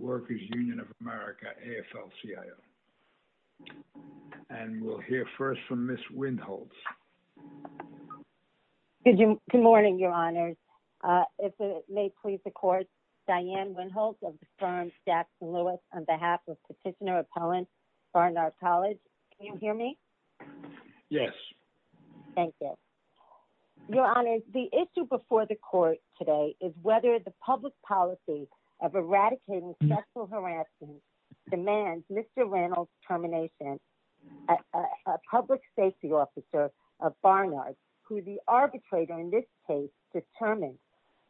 rkers Union of America, AFL-CIO. And we'll hear first from Ms. Windholtz. Good morning, Your Honors. If it may please the Court, Diane Windholtz of the firm Jax Lewis, on behalf of Petitioner Appellant, Barnard College. Can you hear me? Yes. Thank you. Thank you. Your Honors, the issue before the Court today is whether the public policy of eradicating sexual harassment demands Mr. Randall's termination. A public safety officer of Barnard, who the arbitrator in this case determined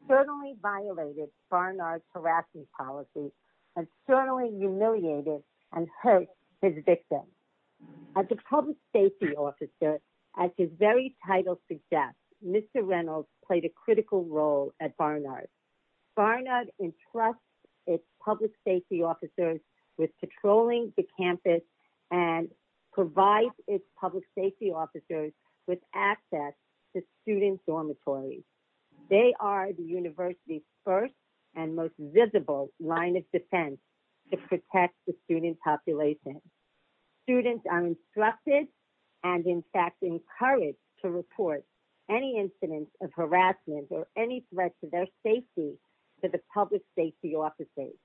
certainly violated Barnard's harassment policy and certainly humiliated and hurt his victim. As a public safety officer, as his very title suggests, Mr. Randall played a critical role at Barnard. Barnard entrusts its public safety officers with patrolling the campus and provides its public safety officers with access to student dormitories. They are the university's first and most visible line of defense to protect the student population. Students are instructed and in fact encouraged to report any incidents of harassment or any threat to their safety to the public safety officers.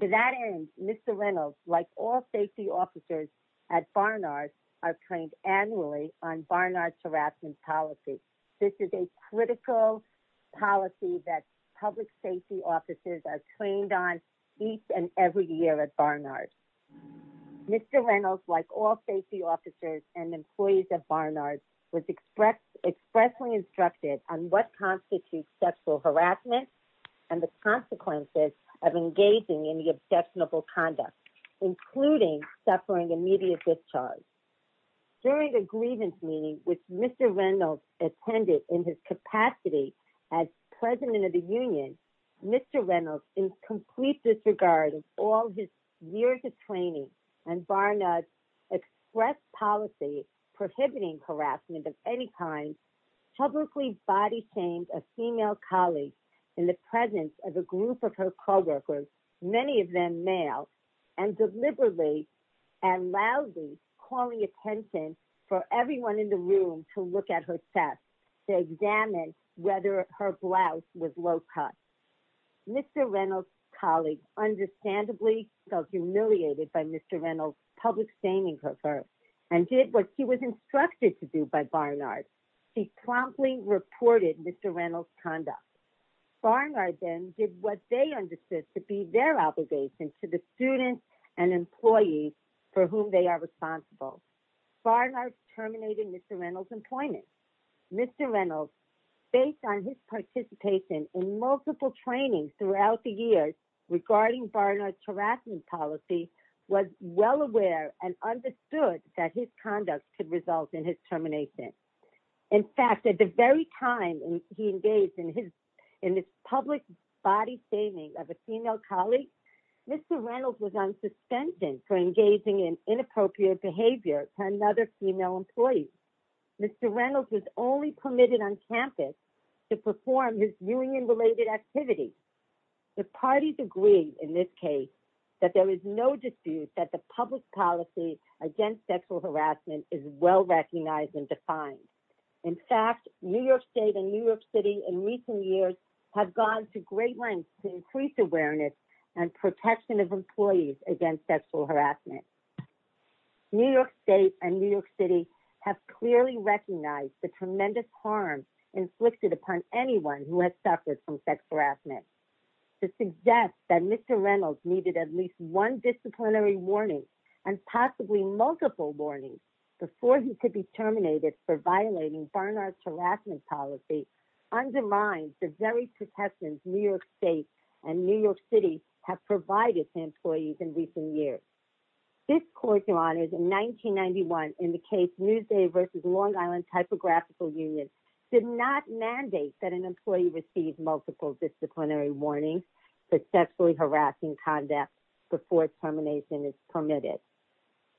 To that end, Mr. Randall, like all safety officers at Barnard, are trained annually on Barnard's harassment policy. This is a critical policy that public safety officers are trained on each and every year at Barnard. Mr. Randall, like all safety officers and employees at Barnard, was expressly instructed on what constitutes sexual harassment and the consequences of engaging in the objectionable conduct, including suffering immediate discharge. During the grievance meeting, which Mr. Randall attended in his capacity as president of the union, Mr. Randall, in complete disregard of all his years of training and Barnard's express policy prohibiting harassment of any kind, publicly body-shamed a female colleague in the presence of a group of her coworkers, many of them male, and deliberately and loudly calling attention for everyone in the room to look at her chest to examine whether her blouse was low-cut. Mr. Randall's colleague understandably felt humiliated by Mr. Randall's public shaming of her and did what he was instructed to do by Barnard. She promptly reported Mr. Randall's conduct. Barnard then did what they understood to be their obligation to the students and employees for whom they are responsible. Barnard terminated Mr. Randall's employment. Mr. Randall, based on his participation in multiple trainings throughout the years regarding Barnard's harassment policy, was well aware and understood that his conduct could result in his termination. In fact, at the very time he engaged in this public body-shaming of a female colleague, Mr. Randall was on suspension for engaging in inappropriate behavior to another female employee. Mr. Randall was only permitted on campus to perform his union-related activities. The parties agreed in this case that there is no dispute that the public policy against sexual harassment is well-recognized and defined. In fact, New York State and New York City in recent years have gone to great lengths to increase awareness and protection of employees against sexual harassment. New York State and New York City have clearly recognized the tremendous harm inflicted upon anyone who has suffered from sexual harassment. To suggest that Mr. Randall needed at least one disciplinary warning and possibly multiple warnings before he could be terminated for violating Barnard's harassment policy undermines the very protections New York State and New York City have provided to employees in recent years. This Court, Your Honors, in 1991, in the case Newsday v. Long Island Typographical Union, did not mandate that an employee receive multiple disciplinary warnings for sexually harassing conduct before termination is permitted.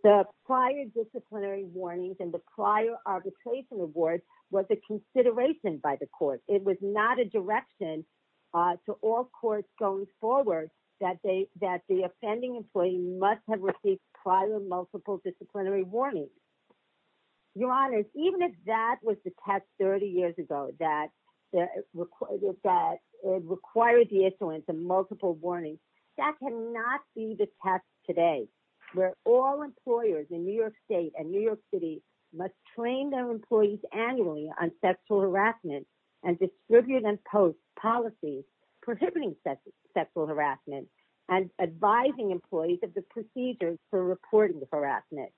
The prior disciplinary warnings and the prior arbitration awards was a consideration by the Court. It was not a direction to all courts going forward that the offending employee must have received prior multiple disciplinary warnings. Your Honors, even if that was the test 30 years ago that required the issuance of multiple warnings, that cannot be the test today, where all employers in New York State and New York City must train their employees annually on sexual harassment and distribute and post policies prohibiting sexual harassment and advising employees of the procedures for reporting the harassment.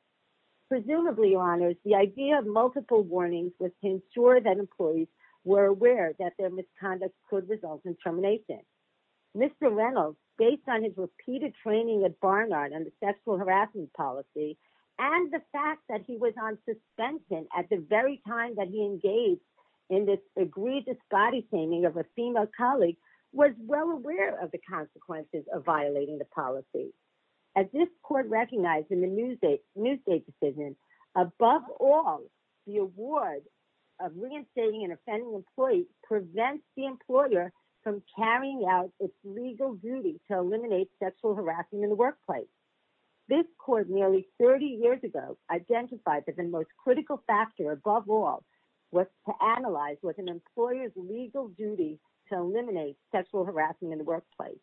Presumably, Your Honors, the idea of multiple warnings was to ensure that employees were aware that their misconduct could result in termination. Mr. Randall, based on his repeated training at Barnard on the sexual harassment policy and the fact that he was on suspension at the very time that he engaged in this egregious body-shaming of a female colleague, was well aware of the consequences of violating the policy. As this Court recognized in the Newsday decision, above all, the award of reinstating an offending employee prevents the employer from carrying out its legal duty to eliminate sexual harassment in the workplace. This Court, nearly 30 years ago, identified that the most critical factor above all was to analyze what an employer's legal duty to eliminate sexual harassment in the workplace.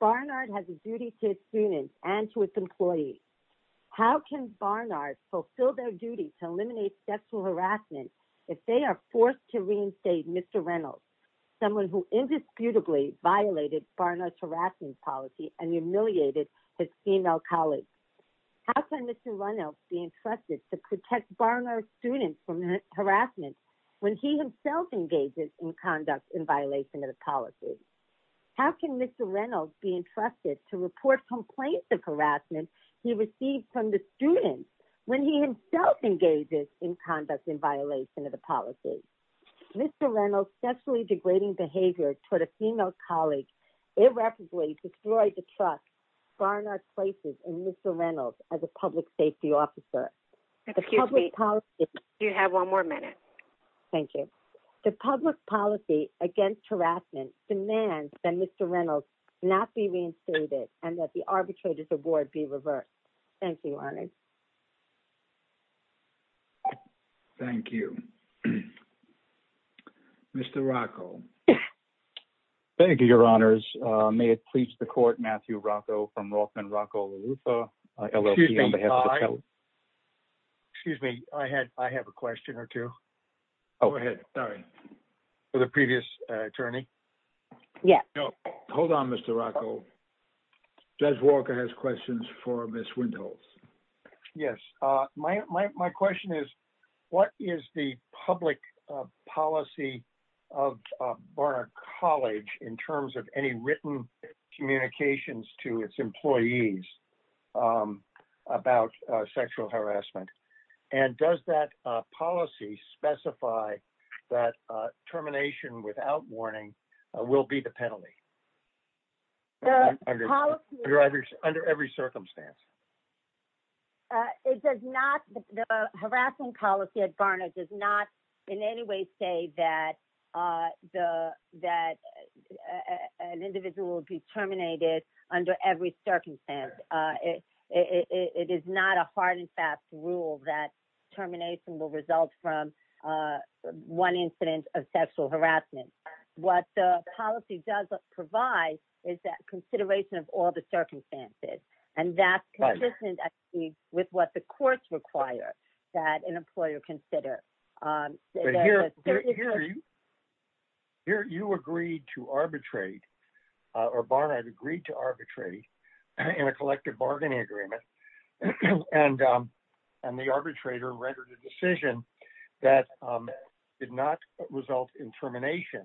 Barnard has a duty to his students and to his employees. How can Barnard fulfill their duty to eliminate sexual harassment if they are forced to reinstate Mr. Randall, someone who indisputably violated Barnard's harassment policy and humiliated his female colleagues? How can Mr. Randall be entrusted to protect Barnard's students from harassment when he himself engages in conduct in violation of the policy? How can Mr. Randall be entrusted to report complaints of harassment he receives from the students when he himself engages in conduct in violation of the policy? Mr. Randall's sexually degrading behavior toward a female colleague irreparably destroyed the trust Barnard places in Mr. Randall as a public safety officer. Excuse me, you have one more minute. Thank you. The public policy against harassment demands that Mr. Randall not be reinstated and that the arbitrator's award be reversed. Thank you, Your Honors. Thank you. Mr. Rocco. Thank you, Your Honors. May it please the Court, Matthew Rocco from Rothman Rocco LaRuffa, LLP, on behalf of the Court. Excuse me, I have a question or two. Go ahead, sorry. For the previous attorney? Yes. Hold on, Mr. Rocco. Judge Walker has questions for Ms. Windholz. Yes, my question is, what is the public policy of Barnard College in terms of any written communications to its employees about sexual harassment? And does that policy specify that termination without warning will be the penalty? Under every circumstance? It does not. The harassment policy at Barnard does not in any way say that an individual will be terminated under every circumstance. It is not a hard and fast rule that termination will result from one incident of sexual harassment. What the policy does provide is that consideration of all the circumstances, and that's consistent with what the courts require that an employer consider. But here you agreed to arbitrate, or Barnard agreed to arbitrate in a collective bargaining agreement, and the arbitrator rendered a decision that did not result in termination,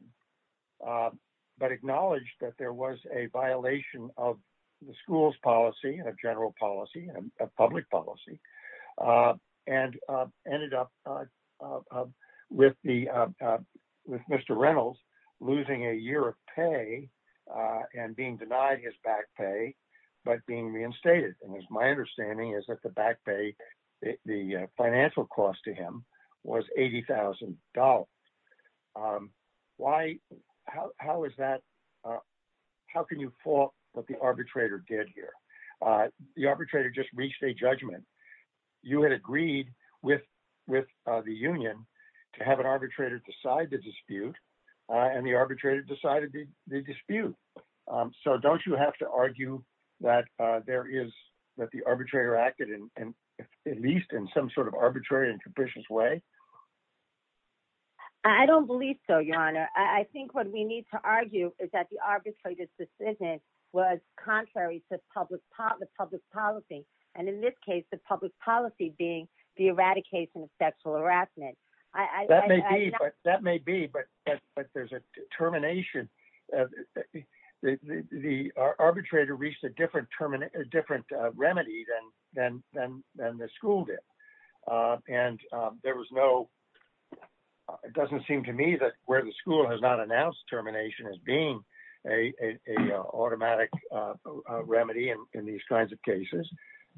but acknowledged that there was a violation of the school's policy and general policy and public policy, and ended up with Mr. Reynolds losing a year of pay and being denied his back pay, but being reinstated. And my understanding is that the back pay, the financial cost to him, was $80,000. How can you fault what the arbitrator did here? The arbitrator just reached a judgment. You had agreed with the union to have an arbitrator decide the dispute, and the arbitrator decided the dispute. So don't you have to argue that the arbitrator acted, at least in some sort of arbitrary and capricious way? I don't believe so, Your Honor. I think what we need to argue is that the arbitrator's decision was contrary to public policy, and in this case, the public policy being the eradication of sexual harassment. That may be, but there's a determination. The arbitrator reached a different remedy than the school did. And it doesn't seem to me that where the school has not announced termination as being an automatic remedy in these kinds of cases,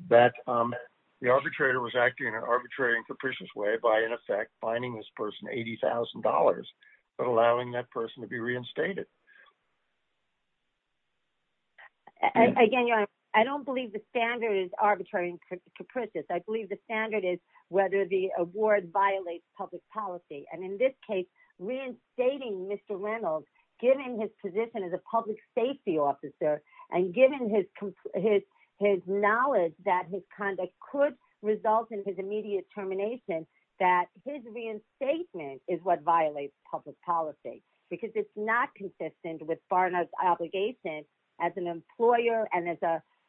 that the arbitrator was acting in an arbitrary and capricious way by, in effect, fining this person $80,000, but allowing that person to be reinstated. Again, Your Honor, I don't believe the standard is arbitrary and capricious. I believe the standard is whether the award violates public policy. And in this case, reinstating Mr. Reynolds, given his position as a public safety officer, and given his knowledge that his conduct could result in his immediate termination, that his reinstatement is what violates public policy, because it's not consistent with Barna's obligation as an employer and as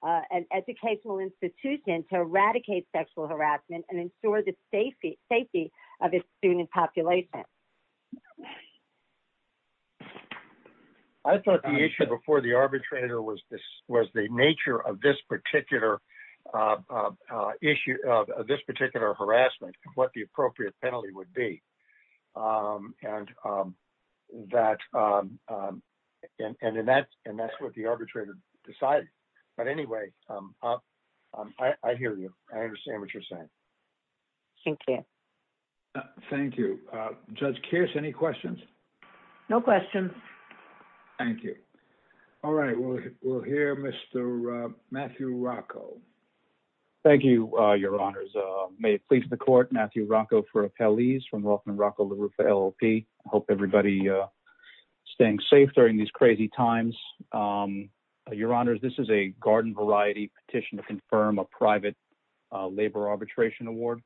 an educational institution to eradicate sexual harassment and ensure the safety of its student population. I thought the issue before the arbitrator was the nature of this particular harassment, what the appropriate penalty would be. And that's what the arbitrator decided. But anyway, I hear you. I understand what you're saying. Thank you. Thank you. Judge Kearse, any questions? No questions. Thank you. All right, we'll hear Mr. Matthew Rocco. Thank you, Your Honors. May it please the court, Matthew Rocco for appellees from Rothman Rocco LaRuffa LLP. I hope everybody is staying safe during these crazy times. Your Honors, this is a garden variety petition to confirm a private labor arbitration award.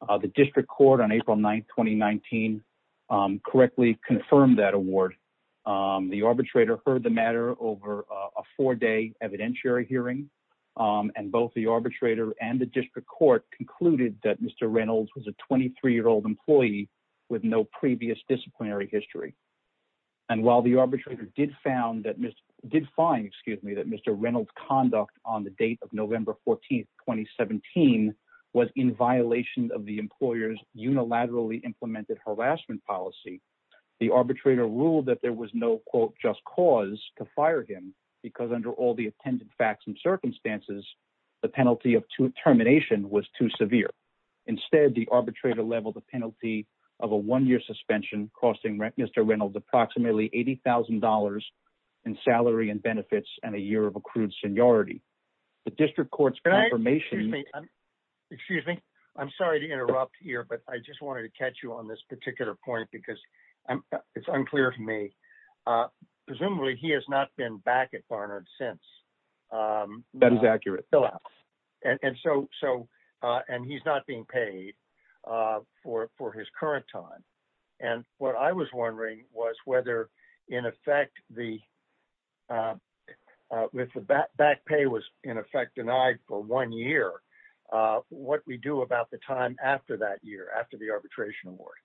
The district court on April 9, 2019, correctly confirmed that award. The arbitrator heard the matter over a four-day evidentiary hearing. And both the arbitrator and the district court concluded that Mr. Reynolds was a 23-year-old employee with no previous disciplinary history. And while the arbitrator did find that Mr. Reynolds' conduct on the date of November 14, 2017, was in violation of the employer's unilaterally implemented harassment policy, the arbitrator ruled that there was no, quote, just cause to fire him because under all the attendant facts and circumstances, the penalty of termination was too severe. Instead, the arbitrator leveled the penalty of a one-year suspension costing Mr. Reynolds approximately $80,000 in salary and benefits and a year of accrued seniority. The district court's confirmation… Excuse me. I'm sorry to interrupt here, but I just wanted to catch you on this particular point because it's unclear to me. Presumably, he has not been back at Barnard since. That is accurate. And so – and he's not being paid for his current time. And what I was wondering was whether, in effect, the – if the back pay was, in effect, denied for one year, what we do about the time after that year, after the arbitration award?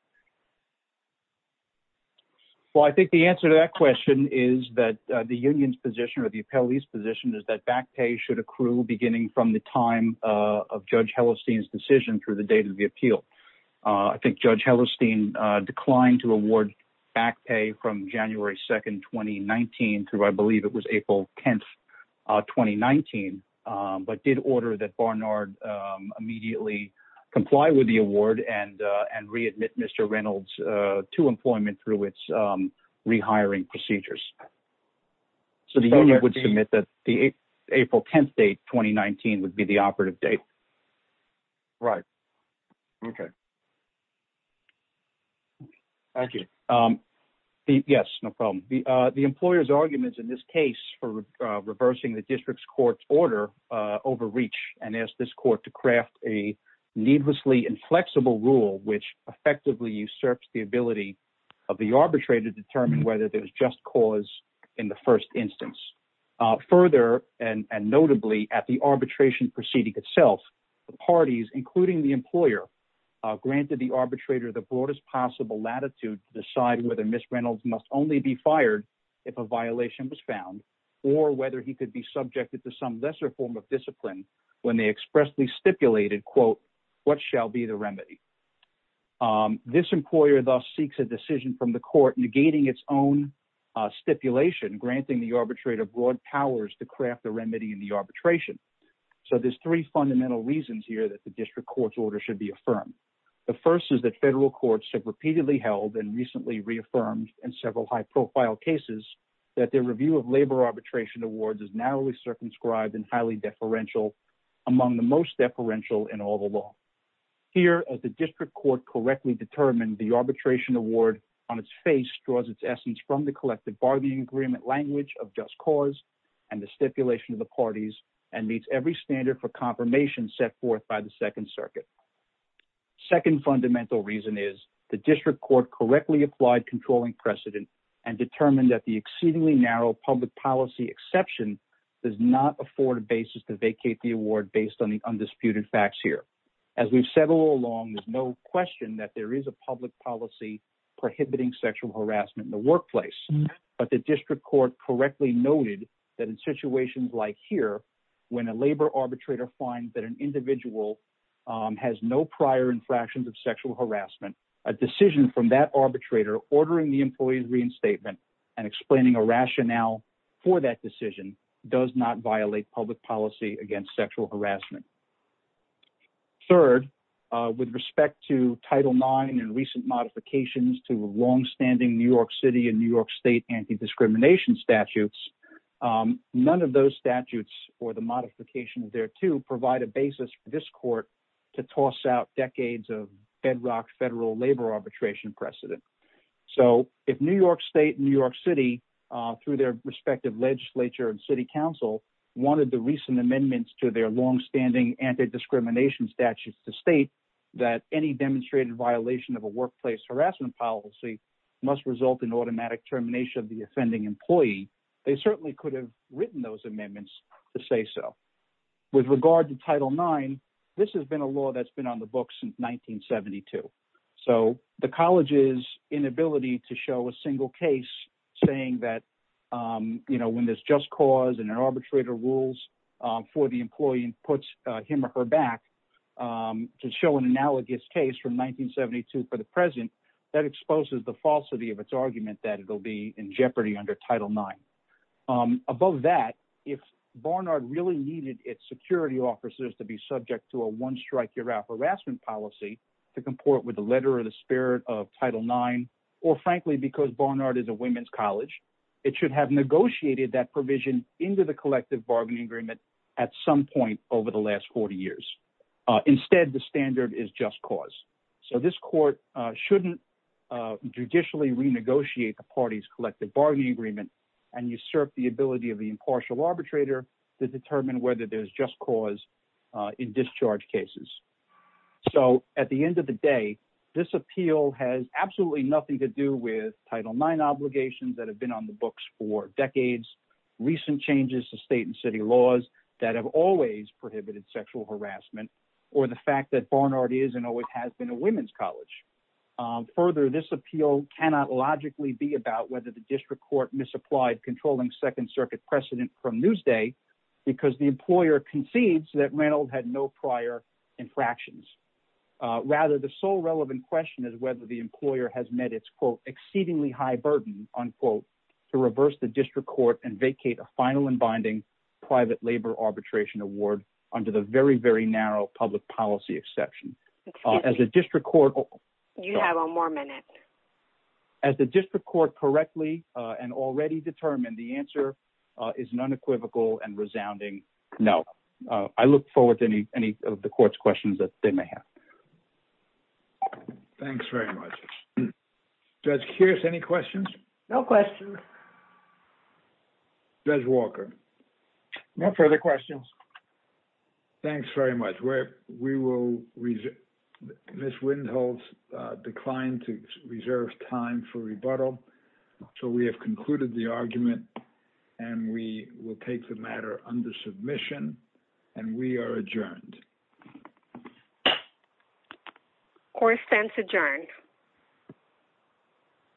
Well, I think the answer to that question is that the union's position or the appellee's position is that back pay should accrue beginning from the time of Judge Hellestein's decision through the date of the appeal. I think Judge Hellestein declined to award back pay from January 2, 2019, through I believe it was April 10, 2019, but did order that Barnard immediately comply with the award and readmit Mr. Reynolds to employment through its rehiring procedures. So the union would submit that the April 10 date, 2019, would be the operative date. Right. Okay. Thank you. Yes, no problem. The employer's arguments in this case for reversing the district's court's order overreach and asked this court to craft a needlessly inflexible rule which effectively usurps the ability of the arbitrator to determine whether there was just cause in the first instance. Further, and notably at the arbitration proceeding itself, the parties, including the employer, granted the arbitrator the broadest possible latitude to decide whether Ms. Reynolds must only be fired if a violation was found, or whether he could be subjected to some lesser form of discipline when they expressly stipulated, quote, what shall be the remedy. This employer thus seeks a decision from the court negating its own stipulation, granting the arbitrator broad powers to craft the remedy in the arbitration. So there's three fundamental reasons here that the district court's order should be affirmed. The first is that federal courts have repeatedly held and recently reaffirmed in several high profile cases that their review of labor arbitration awards is narrowly circumscribed and highly deferential, among the most deferential in all the law. Here, as the district court correctly determined, the arbitration award on its face draws its essence from the collective bargaining agreement language of just cause and the stipulation of the parties and meets every standard for confirmation set forth by the Second Circuit. Second fundamental reason is the district court correctly applied controlling precedent and determined that the exceedingly narrow public policy exception does not afford a basis to vacate the award based on the undisputed facts here. As we've said all along, there's no question that there is a public policy prohibiting sexual harassment in the workplace, but the district court correctly noted that in situations like here, when a labor arbitrator finds that an individual has no prior infractions of sexual harassment, a decision from that arbitrator ordering the employee's reinstatement and explaining a rationale for that decision does not violate public policy against sexual harassment. Third, with respect to Title IX and recent modifications to longstanding New York City and New York State anti-discrimination statutes, none of those statutes or the modifications there to provide a basis for this court to toss out decades of bedrock federal labor arbitration precedent. So if New York State and New York City, through their respective legislature and city council, wanted the recent amendments to their longstanding anti-discrimination statutes to state that any demonstrated violation of a workplace harassment policy must result in automatic termination of the offending employee, they certainly could have written those amendments to say so. With regard to Title IX, this has been a law that's been on the books since 1972. So the college's inability to show a single case saying that, you know, when there's just cause and an arbitrator rules for the employee and puts him or her back to show an analogous case from 1972 for the present, that exposes the falsity of its argument that it'll be in jeopardy under Title IX. Above that, if Barnard really needed its security officers to be subject to a one-strike-you're-out harassment policy to comport with the letter or the spirit of Title IX, or frankly, because Barnard is a women's college, it should have negotiated that provision into the collective bargaining agreement at some point over the last 40 years. Instead, the standard is just cause. So this court shouldn't judicially renegotiate the party's collective bargaining agreement and usurp the ability of the impartial arbitrator to determine whether there's just cause in discharge cases. So at the end of the day, this appeal has absolutely nothing to do with Title IX obligations that have been on the books for decades, recent changes to state and city laws that have always prohibited sexual harassment, or the fact that Barnard is and always has been a women's college. Further, this appeal cannot logically be about whether the district court misapplied controlling Second Circuit precedent from Newsday because the employer concedes that Reynold had no prior infractions. Rather, the sole relevant question is whether the employer has met its quote, exceedingly high burden, unquote, to reverse the district court and vacate a final and binding private labor arbitration award under the very, very narrow public policy exception. As the district court correctly and already determined, the answer is an unequivocal and resounding no. I look forward to any of the court's questions that they may have. Thanks very much. Judge Kearse, any questions? No questions. Judge Walker? No further questions. Thanks very much. Ms. Windholz declined to reserve time for rebuttal, so we have concluded the argument, and we will take the matter under submission, and we are adjourned. Court stands adjourned.